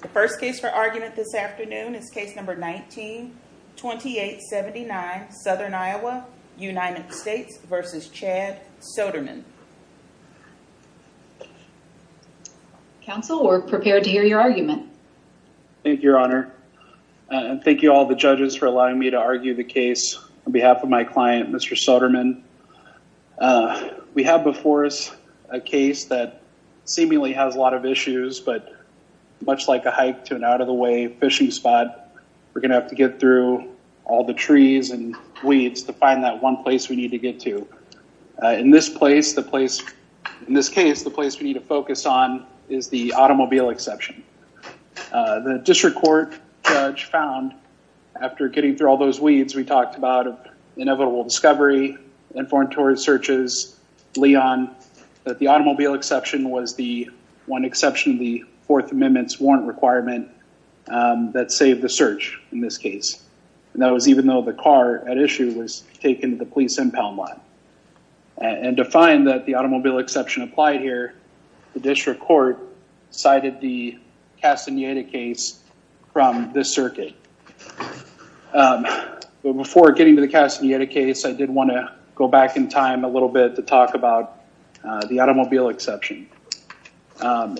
The first case for argument this afternoon is case number 19-2879, Southern Iowa, United States v. Chad Soderman. Counsel, we're prepared to hear your argument. Thank you, Your Honor, and thank you all the judges for allowing me to argue the case on behalf of my client, Mr. Soderman. We have before us a case that seemingly has a lot of issues, but much like a hike to an out-of-the-way fishing spot, we're going to have to get through all the trees and weeds to find that one place we need to get to. In this case, the place we need to focus on is the automobile exception. The district court judge found, after getting through all those weeds we talked about, of inevitable discovery, and foreign tourist searches, Leon, that the automobile exception was the one exception to the Fourth Amendment's warrant requirement that saved the search in this case. That was even though the car at issue was taken to the police impound lot. To find that the automobile exception applied here, the district court cited the Castaneda case from this circuit. Before getting to the Castaneda case, I did want to go back in time a little bit to talk about the automobile exception.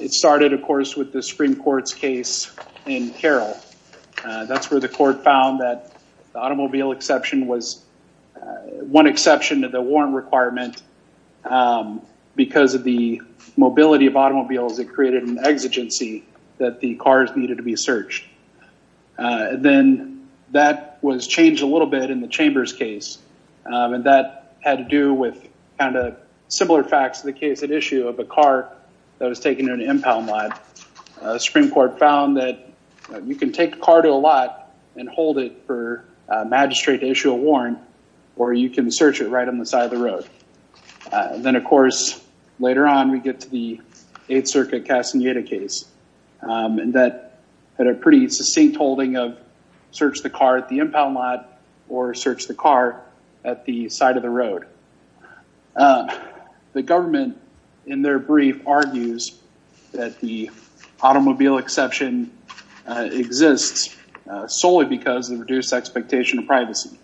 It started, of course, with the Supreme Court's case in Carroll. That's where the court found that the automobile exception was one exception to the warrant requirement because of the mobility of automobiles that created an exigency that the cars needed to be searched. Then that was changed a little bit in the Chambers case, and that had to do with kind of similar facts to the case at issue of a car that was taken to an impound lot. The Supreme Court found that you can take a car to a lot and hold it for a magistrate to issue a warrant, or you can search it right on the side of the road. Then, of course, later on we get to the Eighth Circuit Castaneda case, and that had a pretty succinct holding of search the car at the impound lot or search the car at the side of the road. The government, in their brief, argues that the automobile exception exists solely because of reduced expectation of privacy.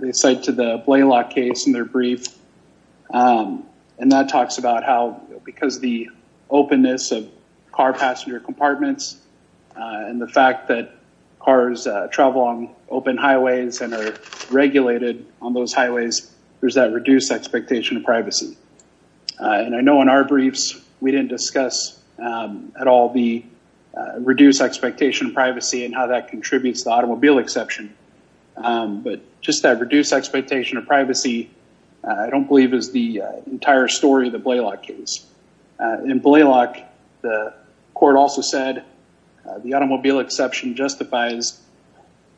They cite to the Blaylock case in their brief, and that talks about how because the openness of car passenger compartments and the fact that cars travel on open highways and are regulated on those highways, there's that reduced expectation of privacy. I know in our briefs we didn't discuss at all the reduced expectation of privacy and how that contributes to the automobile exception, but just that reduced expectation of privacy I don't believe is the entire story of the Blaylock case. In Blaylock, the court also said the automobile exception justifies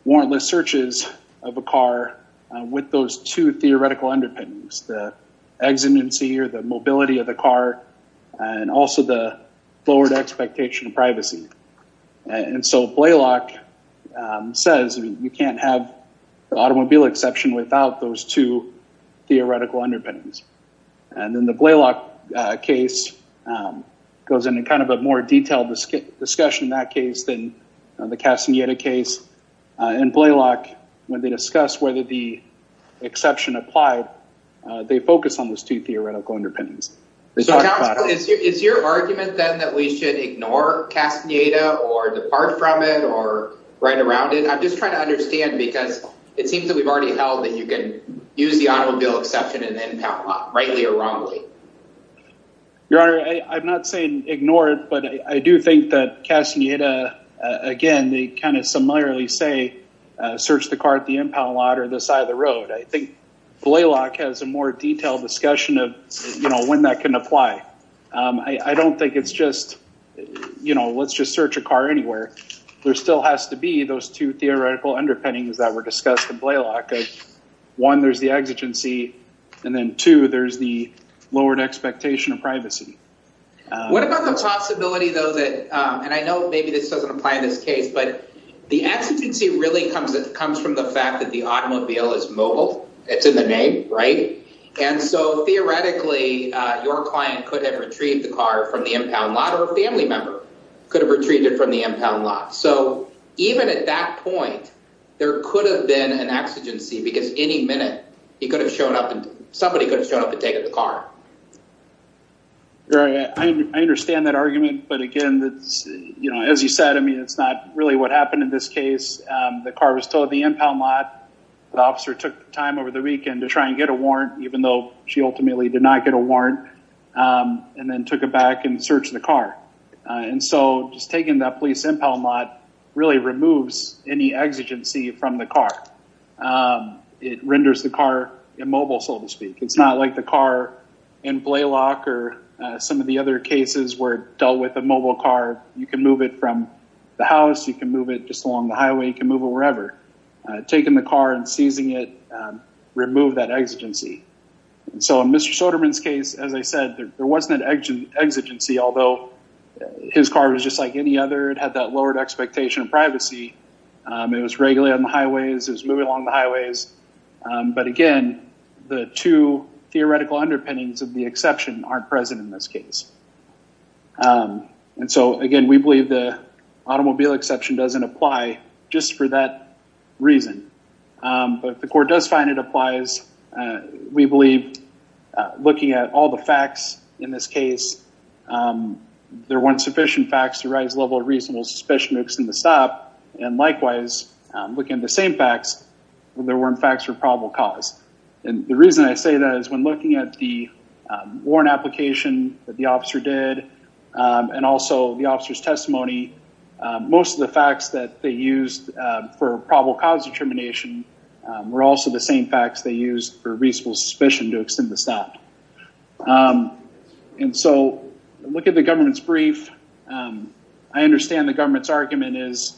warrantless searches of a car with those two theoretical underpinnings, the exigency or the mobility of the car and also the lowered expectation of privacy. And so Blaylock says you can't have the automobile exception without those two theoretical underpinnings. And then the Blaylock case goes into kind of a more detailed discussion in that case than the Castaneda case. In Blaylock, when they discuss whether the exception applied, they focus on those two theoretical underpinnings. Is your argument then that we should ignore Castaneda or depart from it or write around it? I'm just trying to understand because it seems that we've already held that you can use the automobile exception in the impound lot, rightly or wrongly. Your Honor, I'm not saying ignore it, but I do think that Castaneda, again, they kind of similarly say search the car at the impound lot or the side of the road. I think Blaylock has a more detailed discussion of when that can apply. I don't think it's just, you know, let's just search a car anywhere. There still has to be those two theoretical underpinnings that were discussed in Blaylock. One, there's the exigency, and then two, there's the lowered expectation of privacy. What about the possibility, though, that, and I know maybe this doesn't apply in this case, but the exigency really comes from the fact that the automobile is mobile. It's in the name, right? And so theoretically, your client could have retrieved the car from the impound lot or a family member could have retrieved it from the impound lot. So even at that point, there could have been an exigency because any minute, somebody could have shown up and taken the car. Your Honor, I understand that argument. But again, as you said, I mean, it's not really what happened in this case. The car was towed to the impound lot. The officer took time over the weekend to try and get a warrant, even though she ultimately did not get a warrant, and then took it back and searched the car. And so just taking that police impound lot really removes any exigency from the car. It renders the car immobile, so to speak. It's not like the car in Blalock or some of the other cases where it dealt with a mobile car. You can move it from the house. You can move it just along the highway. You can move it wherever. Taking the car and seizing it removed that exigency. So in Mr. Soderman's case, as I said, there wasn't an exigency, although his car was just like any other. It had that lowered expectation of privacy. It was regularly on the highways. It was moving along the highways. But again, the two theoretical underpinnings of the exception aren't present in this case. And so again, we believe the automobile exception doesn't apply just for that reason. But if the court does find it applies, we believe looking at all the facts in this case, there weren't sufficient facts to raise the level of reasonable suspicion to extend the stop. And likewise, looking at the same facts, there weren't facts for probable cause. And the reason I say that is when looking at the warrant application that the officer did and also the officer's testimony, most of the facts that they used for probable cause determination were also the same facts they used for reasonable suspicion to extend the stop. And so look at the government's brief. I understand the government's argument is,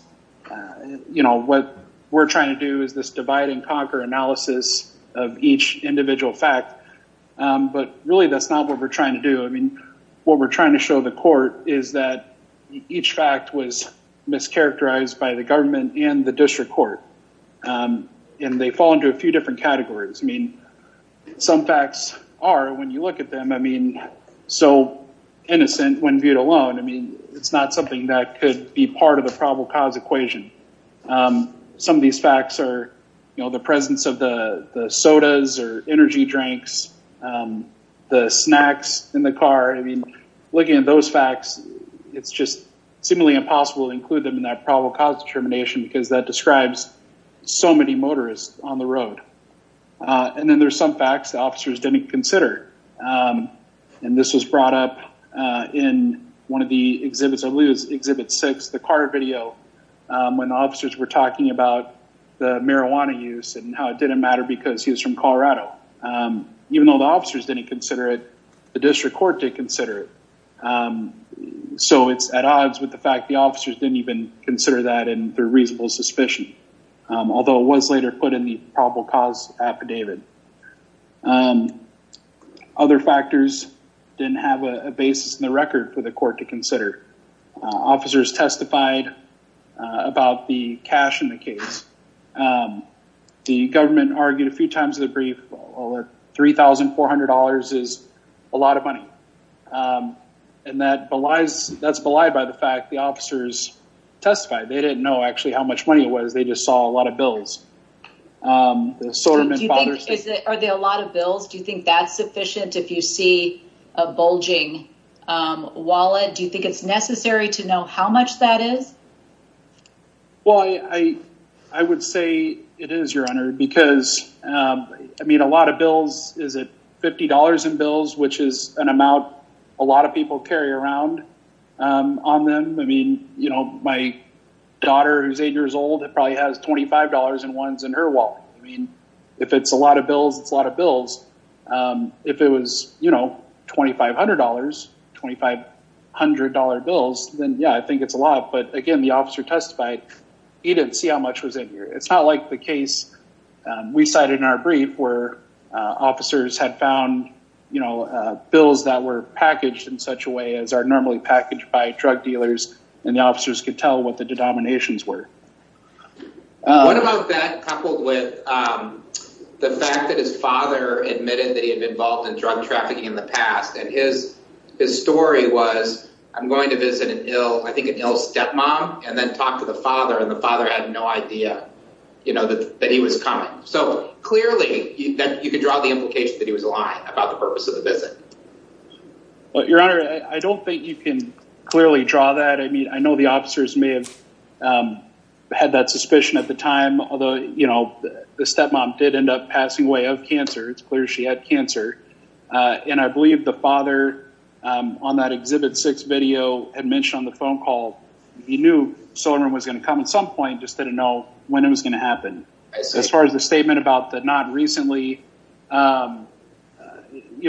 you know, what we're trying to do is this divide and conquer analysis of each individual fact. But really, that's not what we're trying to do. I mean, what we're trying to show the court is that each fact was mischaracterized by the government and the district court. And they fall into a few different categories. I mean, some facts are, when you look at them, I mean, so innocent when viewed alone. I mean, it's not something that could be part of the probable cause equation. Some of these facts are, you know, the presence of the sodas or energy drinks, the snacks in the car. I mean, looking at those facts, it's just seemingly impossible to include them in that probable cause determination because that describes so many motorists on the road. And then there's some facts the officers didn't consider. And this was brought up in one of the exhibits, I believe it was Exhibit 6, the car video, when the officers were talking about the marijuana use and how it didn't matter because he was from Colorado. Even though the officers didn't consider it, the district court did consider it. So it's at odds with the fact the officers didn't even consider that in their reasonable suspicion. Although it was later put in the probable cause affidavit. Other factors didn't have a basis in the record for the court to consider. Officers testified about the cash in the case. The government argued a few times in the brief, $3,400 is a lot of money. And that's belied by the fact the officers testified. They didn't know actually how much money it was. They just saw a lot of bills. Are there a lot of bills? Do you think that's sufficient if you see a bulging wallet? Do you think it's necessary to know how much that is? Well, I would say it is, Your Honor, because, I mean, a lot of bills, is it $50 in bills, which is an amount a lot of people carry around on them? I mean, you know, my daughter who's eight years old probably has $25 in ones in her wallet. I mean, if it's a lot of bills, it's a lot of bills. If it was, you know, $2,500, $2,500 bills, then yeah, I think it's a lot. But again, the officer testified. He didn't see how much was in here. It's not like the case we cited in our brief where officers had found, you know, bills that were packaged in such a way as are normally packaged by drug dealers, and the officers could tell what the denominations were. What about that coupled with the fact that his father admitted that he had been involved in drug trafficking in the past, and his story was, I'm going to visit an ill, I think an ill stepmom, and then talk to the father, and the father had no idea, you know, that he was coming. So clearly, you could draw the implication that he was lying about the purpose of the visit. Well, Your Honor, I don't think you can clearly draw that. I mean, I know the officers may have had that suspicion at the time, although, you know, the stepmom did end up passing away of cancer. It's clear she had cancer. And I believe the father on that Exhibit 6 video had mentioned on the phone call, he knew Soren was going to come at some point, just didn't know when it was going to happen. As far as the statement about the not recently, you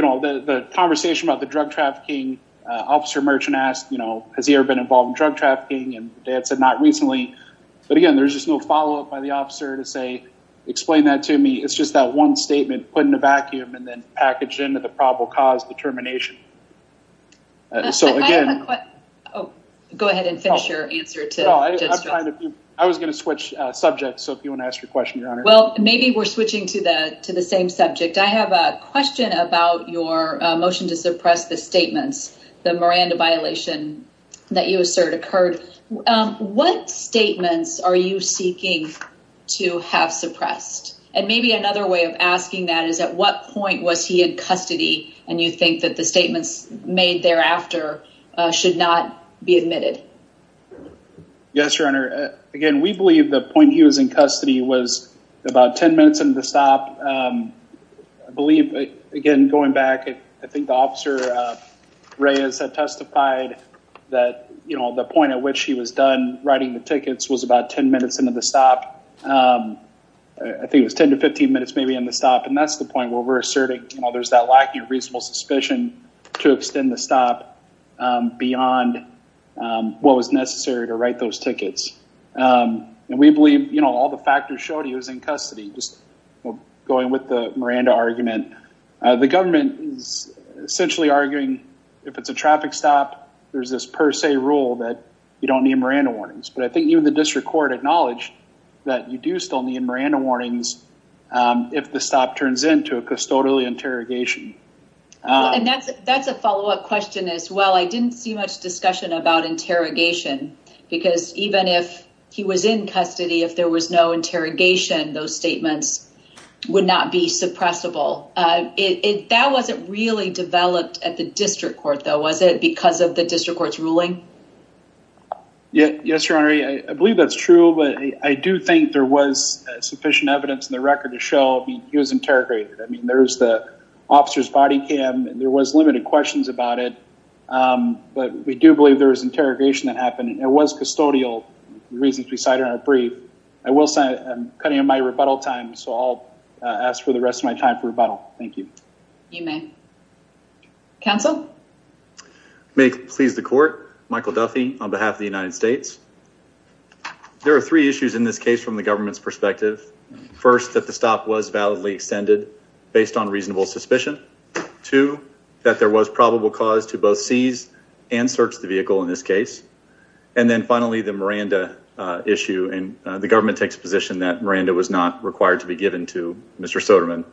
know, the conversation about the drug trafficking, Officer Merchant asked, you know, has he ever been involved in drug trafficking? And the dad said, not recently. But again, there's just no follow-up by the officer to say, explain that to me. It's just that one statement put in a vacuum and then packaged into the probable cause determination. So again... Go ahead and finish your answer to Judge Strickland. I was going to switch subjects. So if you want to ask your question, Your Honor. Well, maybe we're switching to the same subject. I have a question about your motion to suppress the statements, the Miranda violation that you assert occurred. What statements are you seeking to have suppressed? And maybe another way of asking that is at what point was he in custody? And you think that the statements made thereafter should not be admitted? Yes, Your Honor. Again, we believe the point he was in custody was about 10 minutes into the stop. I believe, again, going back, I think the officer Reyes had testified that, you know, the point at which he was done writing the tickets was about 10 minutes into the stop. I think it was 10 to 15 minutes maybe in the stop. And that's the point where we're asserting, you know, there's that lack of reasonable suspicion to extend the stop beyond what was necessary to write those tickets. And we believe, you know, all the factors showed he was in custody. Just going with the Miranda argument, the government is essentially arguing if it's a traffic stop, there's this per se rule that you don't need Miranda warnings. But I think even the district court acknowledged that you do still need Miranda warnings if the stop turns into a custodial interrogation. And that's a follow-up question as well. I didn't see much discussion about interrogation because even if he was in custody, if there was no interrogation, those statements would not be suppressible. That wasn't really developed at the district court, though, was it, because of the district court's ruling? Yes, Your Honor. I believe that's true. But I do think there was sufficient evidence in the record to show he was interrogated. I mean, there's the officer's body cam. There was limited questions about it. But we do believe there was interrogation that happened. It was custodial, the reasons we cited in our brief. I will say I'm cutting in my rebuttal time, so I'll ask for the rest of my time for rebuttal. Thank you. You may. Counsel? May it please the court, Michael Duffy on behalf of the United States. There are three issues in this case from the government's perspective. First, that the stop was validly extended. Based on reasonable suspicion. Two, that there was probable cause to both seize and search the vehicle in this case. And then finally, the Miranda issue. And the government takes a position that Miranda was not required to be given to Mr. Soderman.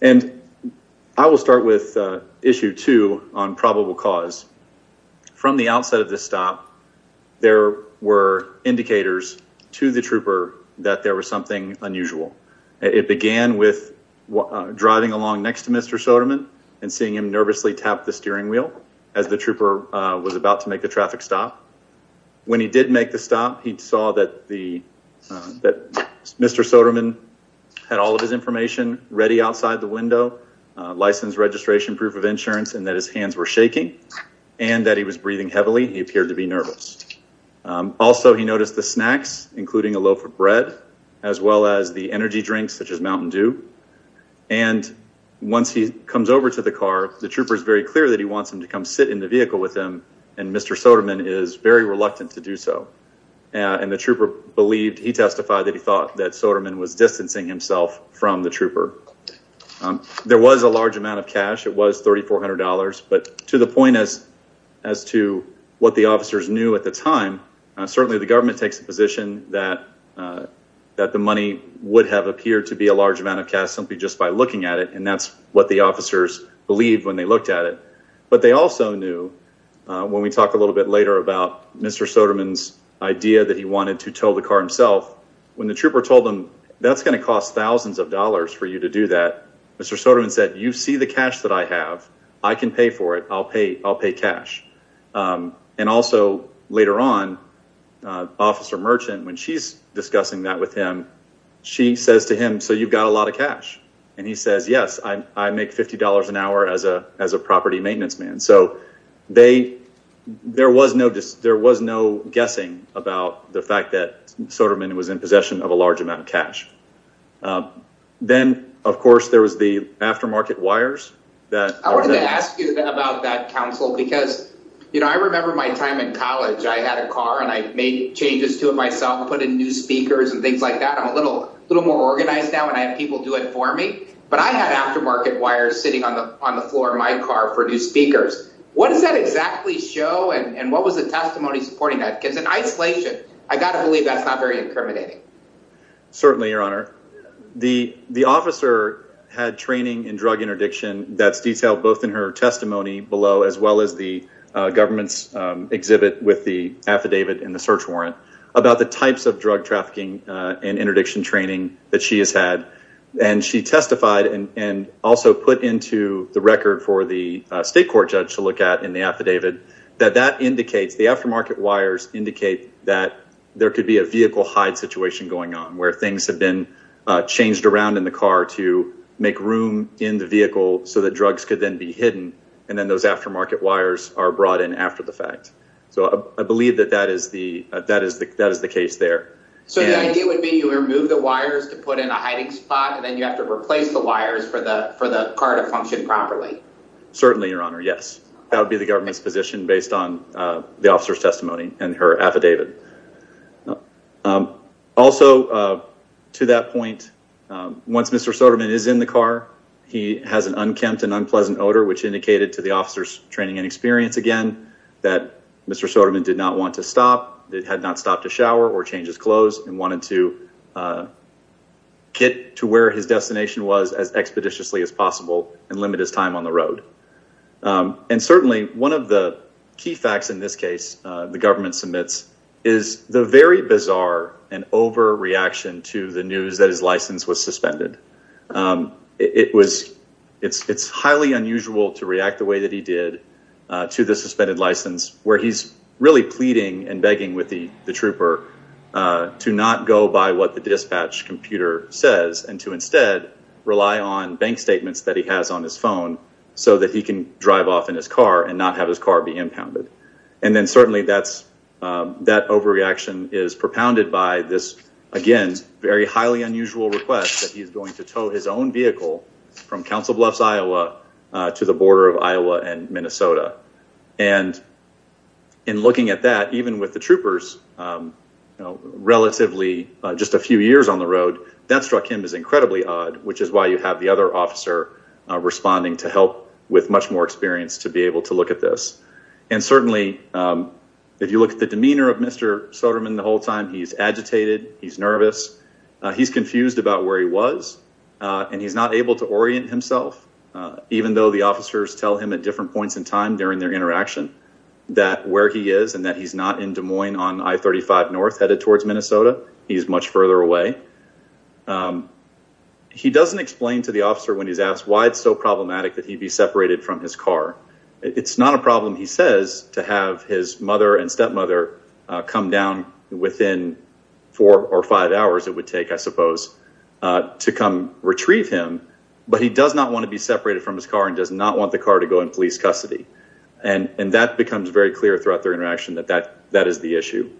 And I will start with issue two on probable cause. From the outset of the stop, there were indicators to the trooper that there was something unusual. It began with driving along next to Mr. Soderman and seeing him nervously tap the steering wheel as the trooper was about to make the traffic stop. When he did make the stop, he saw that Mr. Soderman had all of his information ready outside the window. License, registration, proof of insurance, and that his hands were shaking. And that he was breathing heavily. He appeared to be nervous. Also, he noticed the snacks, including a loaf of bread, as well as the energy drinks, such as Mountain Dew. And once he comes over to the car, the trooper is very clear that he wants him to come sit in the vehicle with him. And Mr. Soderman is very reluctant to do so. And the trooper believed, he testified that he thought that Soderman was distancing himself from the trooper. There was a large amount of cash. It was $3,400. But to the point as to what the officers knew at the time, certainly the government takes the position that the money would have appeared to be a large amount of cash simply just by looking at it. And that's what the officers believed when they looked at it. But they also knew, when we talk a little bit later about Mr. Soderman's idea that he wanted to tow the car himself, when the trooper told him, that's going to cost thousands of dollars for you to do that, Mr. Soderman said, you see the cash that I have, I can pay for it, I'll pay cash. And also, later on, Officer Merchant, when she's discussing that with him, she says to him, so you've got a lot of cash? And he says, yes, I make $50 an hour as a property maintenance man. So, there was no guessing about the fact that Soderman was in possession of a large amount of cash. Then, of course, there was the aftermarket wires. I wanted to ask you about that, Counsel, because I remember my time in college. I had a car and I made changes to it myself, put in new speakers and things like that. I'm a little more organized now and I have people do it for me. But I had aftermarket wires sitting on the floor of my car for new speakers. What does that exactly show and what was the testimony supporting that? Because in isolation, I've got to believe that's not very incriminating. Certainly, Your Honor. The officer had training in drug interdiction that's detailed both in her testimony below, as well as the government's exhibit with the affidavit and the search warrant, about the types of drug trafficking and interdiction training that she has had. And she testified and also put into the record for the state court judge to look at in the affidavit that the aftermarket wires indicate that there could be a vehicle hide situation going on, where things have been changed around in the car to make room in the vehicle so that drugs could then be hidden. And then those aftermarket wires are brought in after the fact. So I believe that that is the case there. So the idea would be you remove the wires to put in a hiding spot and then you have to replace the wires for the car to function properly? Certainly, Your Honor. Yes. That would be the government's position based on the officer's testimony and her affidavit. Also, to that point, once Mr. Soderman is in the car, he has an unkempt and unpleasant odor, which indicated to the officer's training and experience, again, that Mr. Soderman did not want to stop, had not stopped to shower or change his clothes, and wanted to get to where his destination was as expeditiously as possible and limit his time on the road. And certainly one of the key facts in this case the government submits is the very bizarre and overreaction to the news that his license was suspended. It's highly unusual to react the way that he did to the suspended license, where he's really pleading and begging with the trooper to not go by what the dispatch computer says and to instead rely on bank statements that he has on his phone so that he can drive off in his car and not have his car be impounded. And then certainly that overreaction is propounded by this, again, very highly unusual request that he's going to tow his own vehicle from Council Bluffs, Iowa, to the border of Iowa and Minnesota. And in looking at that, even with the troopers, relatively just a few years on the road, that struck him as incredibly odd, which is why you have the other officer responding to help with much more experience to be able to look at this. And certainly if you look at the demeanor of Mr. Soderman the whole time, he's agitated, he's nervous, he's confused about where he was, and he's not able to orient himself, even though the officers tell him at different points in time during their interaction that where he is and that he's not in Des Moines on I-35 North headed towards Minnesota. He's much further away. He doesn't explain to the officer when he's asked why it's so problematic that he be separated from his car. It's not a problem, he says, to have his mother and stepmother come down within four or five hours, it would take, I suppose, to come retrieve him, but he does not want to be separated from his car and does not want the car to go in police custody. And that becomes very clear throughout their interaction that that is the issue.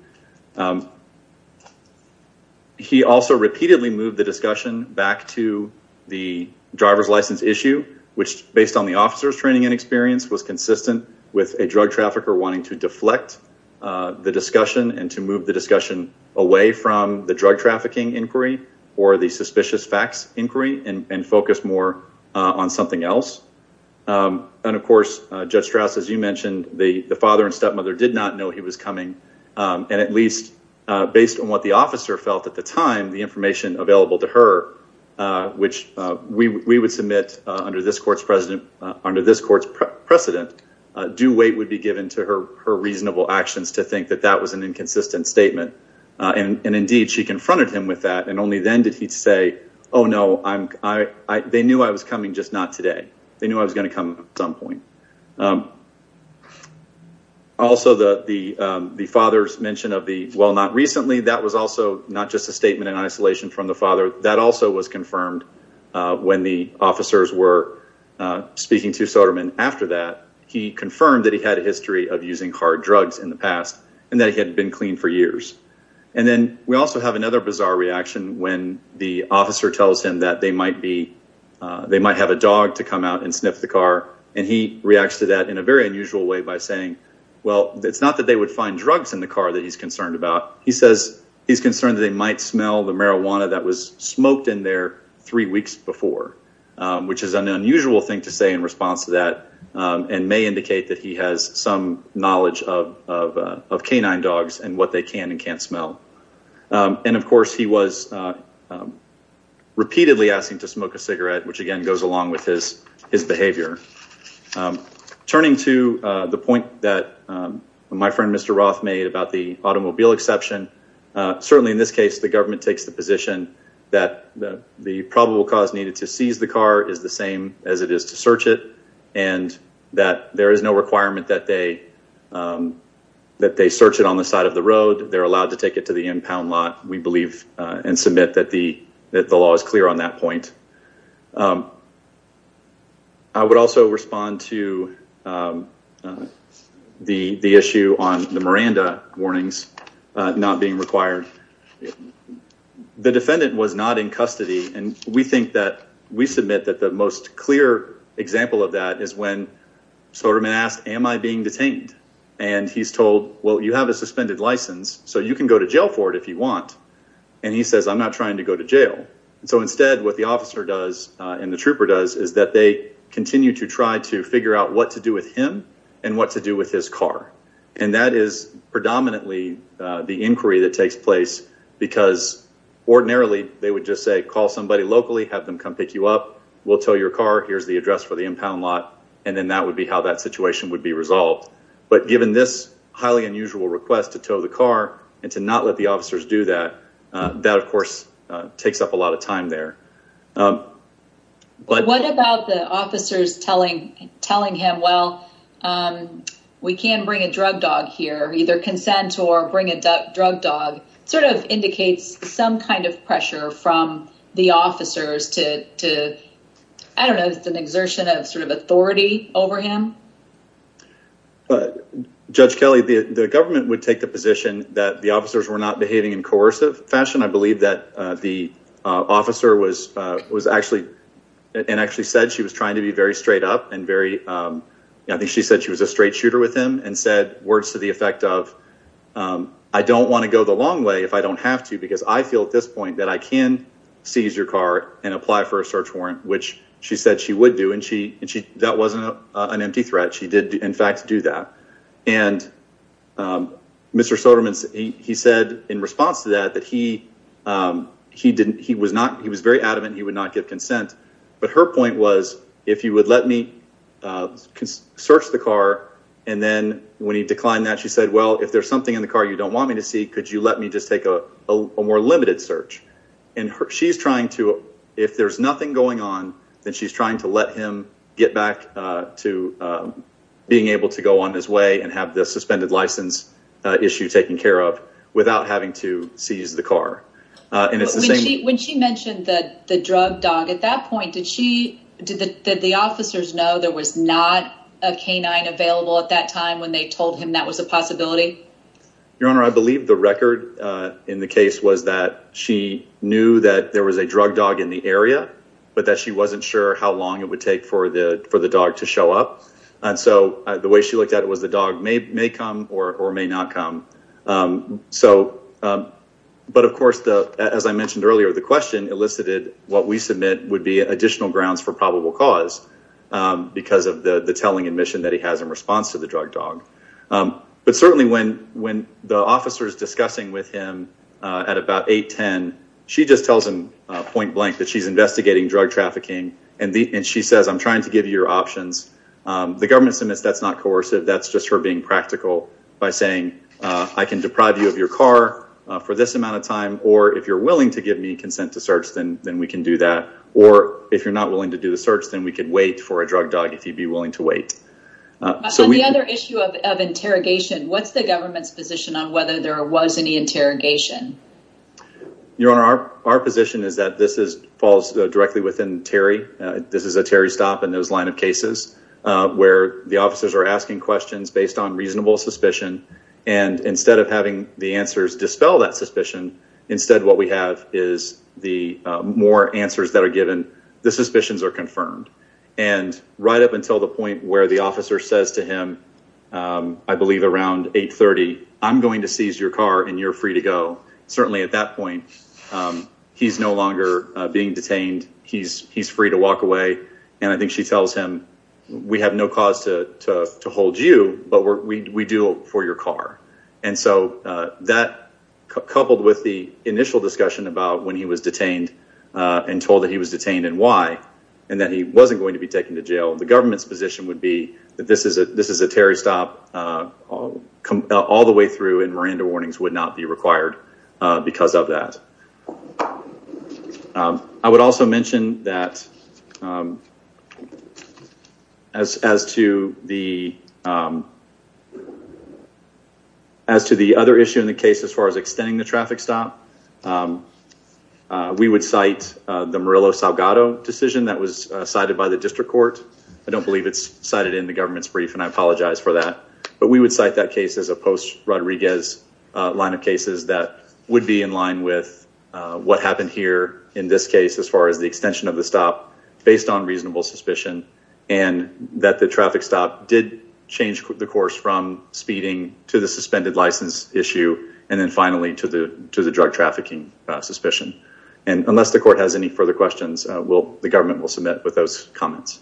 He also repeatedly moved the discussion back to the driver's license issue, which based on the officer's training and experience was consistent with a drug trafficker wanting to deflect the discussion and to move the discussion away from the drug trafficking inquiry or the suspicious facts inquiry and focus more on something else. And of course, Judge Strauss, as you mentioned, the father and stepmother did not know he was coming and at least based on what the officer felt at the time, the information available to her, which we would submit under this court's precedent, due weight would be given to her reasonable actions to think that that was an inconsistent statement. And indeed, she confronted him with that and only then did he say, oh, no, they knew I was coming, just not today. They knew I was going to come at some point. Also, the father's mention of the, well, not recently, that was also not just a statement in isolation from the father. That also was confirmed when the officers were speaking to Soderman. After that, he confirmed that he had a history of using hard drugs in the past and that he had been clean for years. And then we also have another bizarre reaction when the officer tells him that they might be, they might have a dog to come out and sniff the car and he reacts to that in a very unusual way by saying, well, it's not that they would find drugs in the car that he's concerned about. He says he's concerned that they might smell the marijuana that was smoked in there three weeks before, which is an unusual thing to say in response to that and may indicate that he has some knowledge of canine dogs and what they can and can't smell. And of course, he was repeatedly asking to smoke a cigarette, which again goes along with his behavior. Turning to the point that my friend Mr. Roth made about the automobile exception. Certainly in this case, the government takes the position that the probable cause needed to seize the car is the same as it is to search it and that there is no requirement that they, that they search it on the side of the road. They're allowed to take it to the impound lot, we believe and submit that the law is clear on that point. I would also respond to the issue on the Miranda warnings not being required. The defendant was not in custody and we think that we submit that the most clear example of that is when Soterman asked, am I being detained? And he's told, well, you have a suspended license so you can go to jail for it if you want. And he says, I'm not trying to go to jail. And so instead what the officer does and the trooper does is that they continue to try to figure out what to do with him and what to do with his car. And that is predominantly the inquiry that takes place because ordinarily they would just say, call somebody locally, have them come pick you up, we'll tow your car, here's the address for the impound lot, and then that would be how that situation would be resolved. But given this highly unusual request to tow the car and to not let the officers do that, that of course takes up a lot of time there. But what about the officers telling him, well, we can bring a drug dog here, either consent or bring a drug dog, sort of indicates some kind of pressure from the officers to, I don't know, it's an exertion of sort of authority over him? Judge Kelly, the government would take the position that the officers were not behaving in coercive fashion. I believe that the officer was actually, and actually said she was trying to be very straight up and very, I think she said she was a straight shooter with him and said words to the effect of, I don't want to go the long way if I don't have to because I feel at this point that I can seize your car and apply for a search warrant, which she said she would do. And that wasn't an empty threat. She did in fact do that. And Mr. Soderman, he said in response to that, that he was very adamant he would not give consent. But her point was, if you would let me search the car and then when he declined that, she said, well, if there's something in the car you don't want me to see, could you let me just take a more limited search? And she's trying to, if there's nothing going on, then she's trying to let him get back to being able to go on his way and have the suspended license issue taken care of without having to seize the car. When she mentioned that the drug dog at that point, did the officers know there was not a canine available at that time when they told him that was a possibility? Your Honor, I believe the record in the case was that she knew that there was a drug dog in the area, but that she wasn't sure how long it would take for the dog to show up. And so the way she looked at it was the dog may come or may not come. So, but of course, as I mentioned earlier, the question elicited what we submit would be additional grounds for probable cause because of the telling admission that he has in response to the drug dog. But certainly when the officers discussing with him at about 8, 10, she just tells him point blank that she's investigating drug trafficking and she says, I'm trying to give you your options. The government submits that's not coercive. That's just her being practical by saying, I can deprive you of your car for this amount of time. Or if you're willing to give me consent to search, then we can do that. Or if you're not willing to do the search, then we could wait for a drug dog if you'd be willing to wait. On the other issue of interrogation, what's the government's position on whether there was any interrogation? Your Honor, our position is that this falls directly within Terry. This is a Terry stop in those line of cases where the officers are asking questions based on reasonable suspicion. And instead of having the answers dispel that suspicion, instead what we have is the more answers that are given, the suspicions are confirmed. And right up until the point where the officer says to him, I believe around 8, 30, I'm going to seize your car and you're free to go. Certainly at that point, he's no longer being detained. He's free to walk away. And I think she tells him, we have no cause to hold you, but we do it for your car. And so that, coupled with the initial discussion about when he was detained and told that he was detained and why, and that he wasn't going to be taken to jail, the government's position would be that this is a Terry stop all the way through and Miranda warnings would not be required because of that. I would also mention that as to the other issue in the case as far as extending the traffic stop, we would cite the Murillo Salgado decision that was cited by the district court. I don't believe it's cited in the government's brief, and I apologize for that. But we would cite that case as a post Rodriguez line of cases that would be in line with what happened here in this case as far as the extension of the stop based on reasonable suspicion and that the traffic stop did change the course from speeding to the suspended license issue. And then finally, to the drug trafficking suspicion. And unless the court has any further questions, the government will submit with those comments.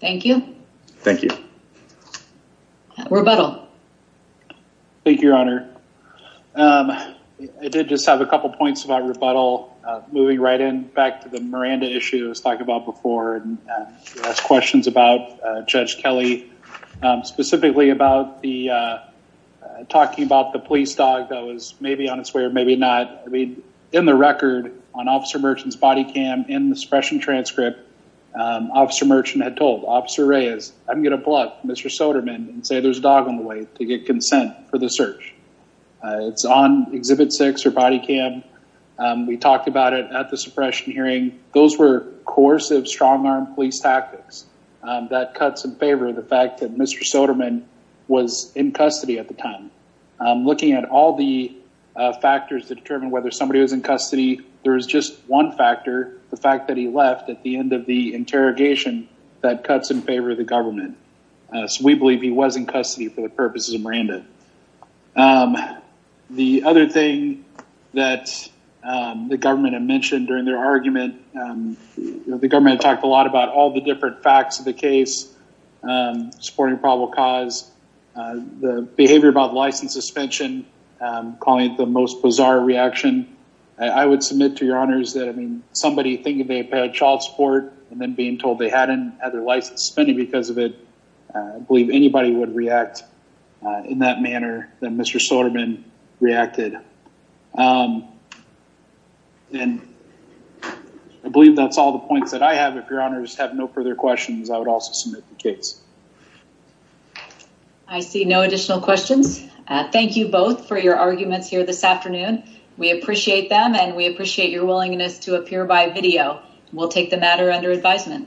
Thank you. Thank you. Rebuttal. Thank you, Your Honor. I did just have a couple points about rebuttal moving right in back to the Miranda issue I was talking about before and ask questions about Judge Kelly, specifically about the talking about the police dog that was maybe on its way or maybe not. I mean, in the record on Officer Merchant's body cam in the suppression transcript, Officer Merchant had told Officer Reyes, I'm going to pull up Mr. Soderman and say there's a dog on the way to the church. It's on exhibit six or body cam. We talked about it at the suppression hearing. Those were coercive, strong armed police tactics that cuts in favor of the fact that Mr. Soderman was in custody at the time. Looking at all the factors to determine whether somebody was in custody, there was just one factor, the fact that he left at the end of the interrogation that cuts in favor of the government. So we believe he was in custody at the time. The other thing that the government had mentioned during their argument, the government had talked a lot about all the different facts of the case, supporting probable cause, the behavior about license suspension, calling it the most bizarre reaction. I would submit to your honors that somebody thinking they paid child support and then being told they hadn't had their license suspended because of it, I believe anybody would react in that manner that Mr. Soderman reacted. I believe that's all the points that I have. If your honors have no further questions, I would also submit the case. I see no additional questions. Thank you both for your arguments here this afternoon. We appreciate them and we appreciate your willingness to appear by video. We'll take the matter under advisement.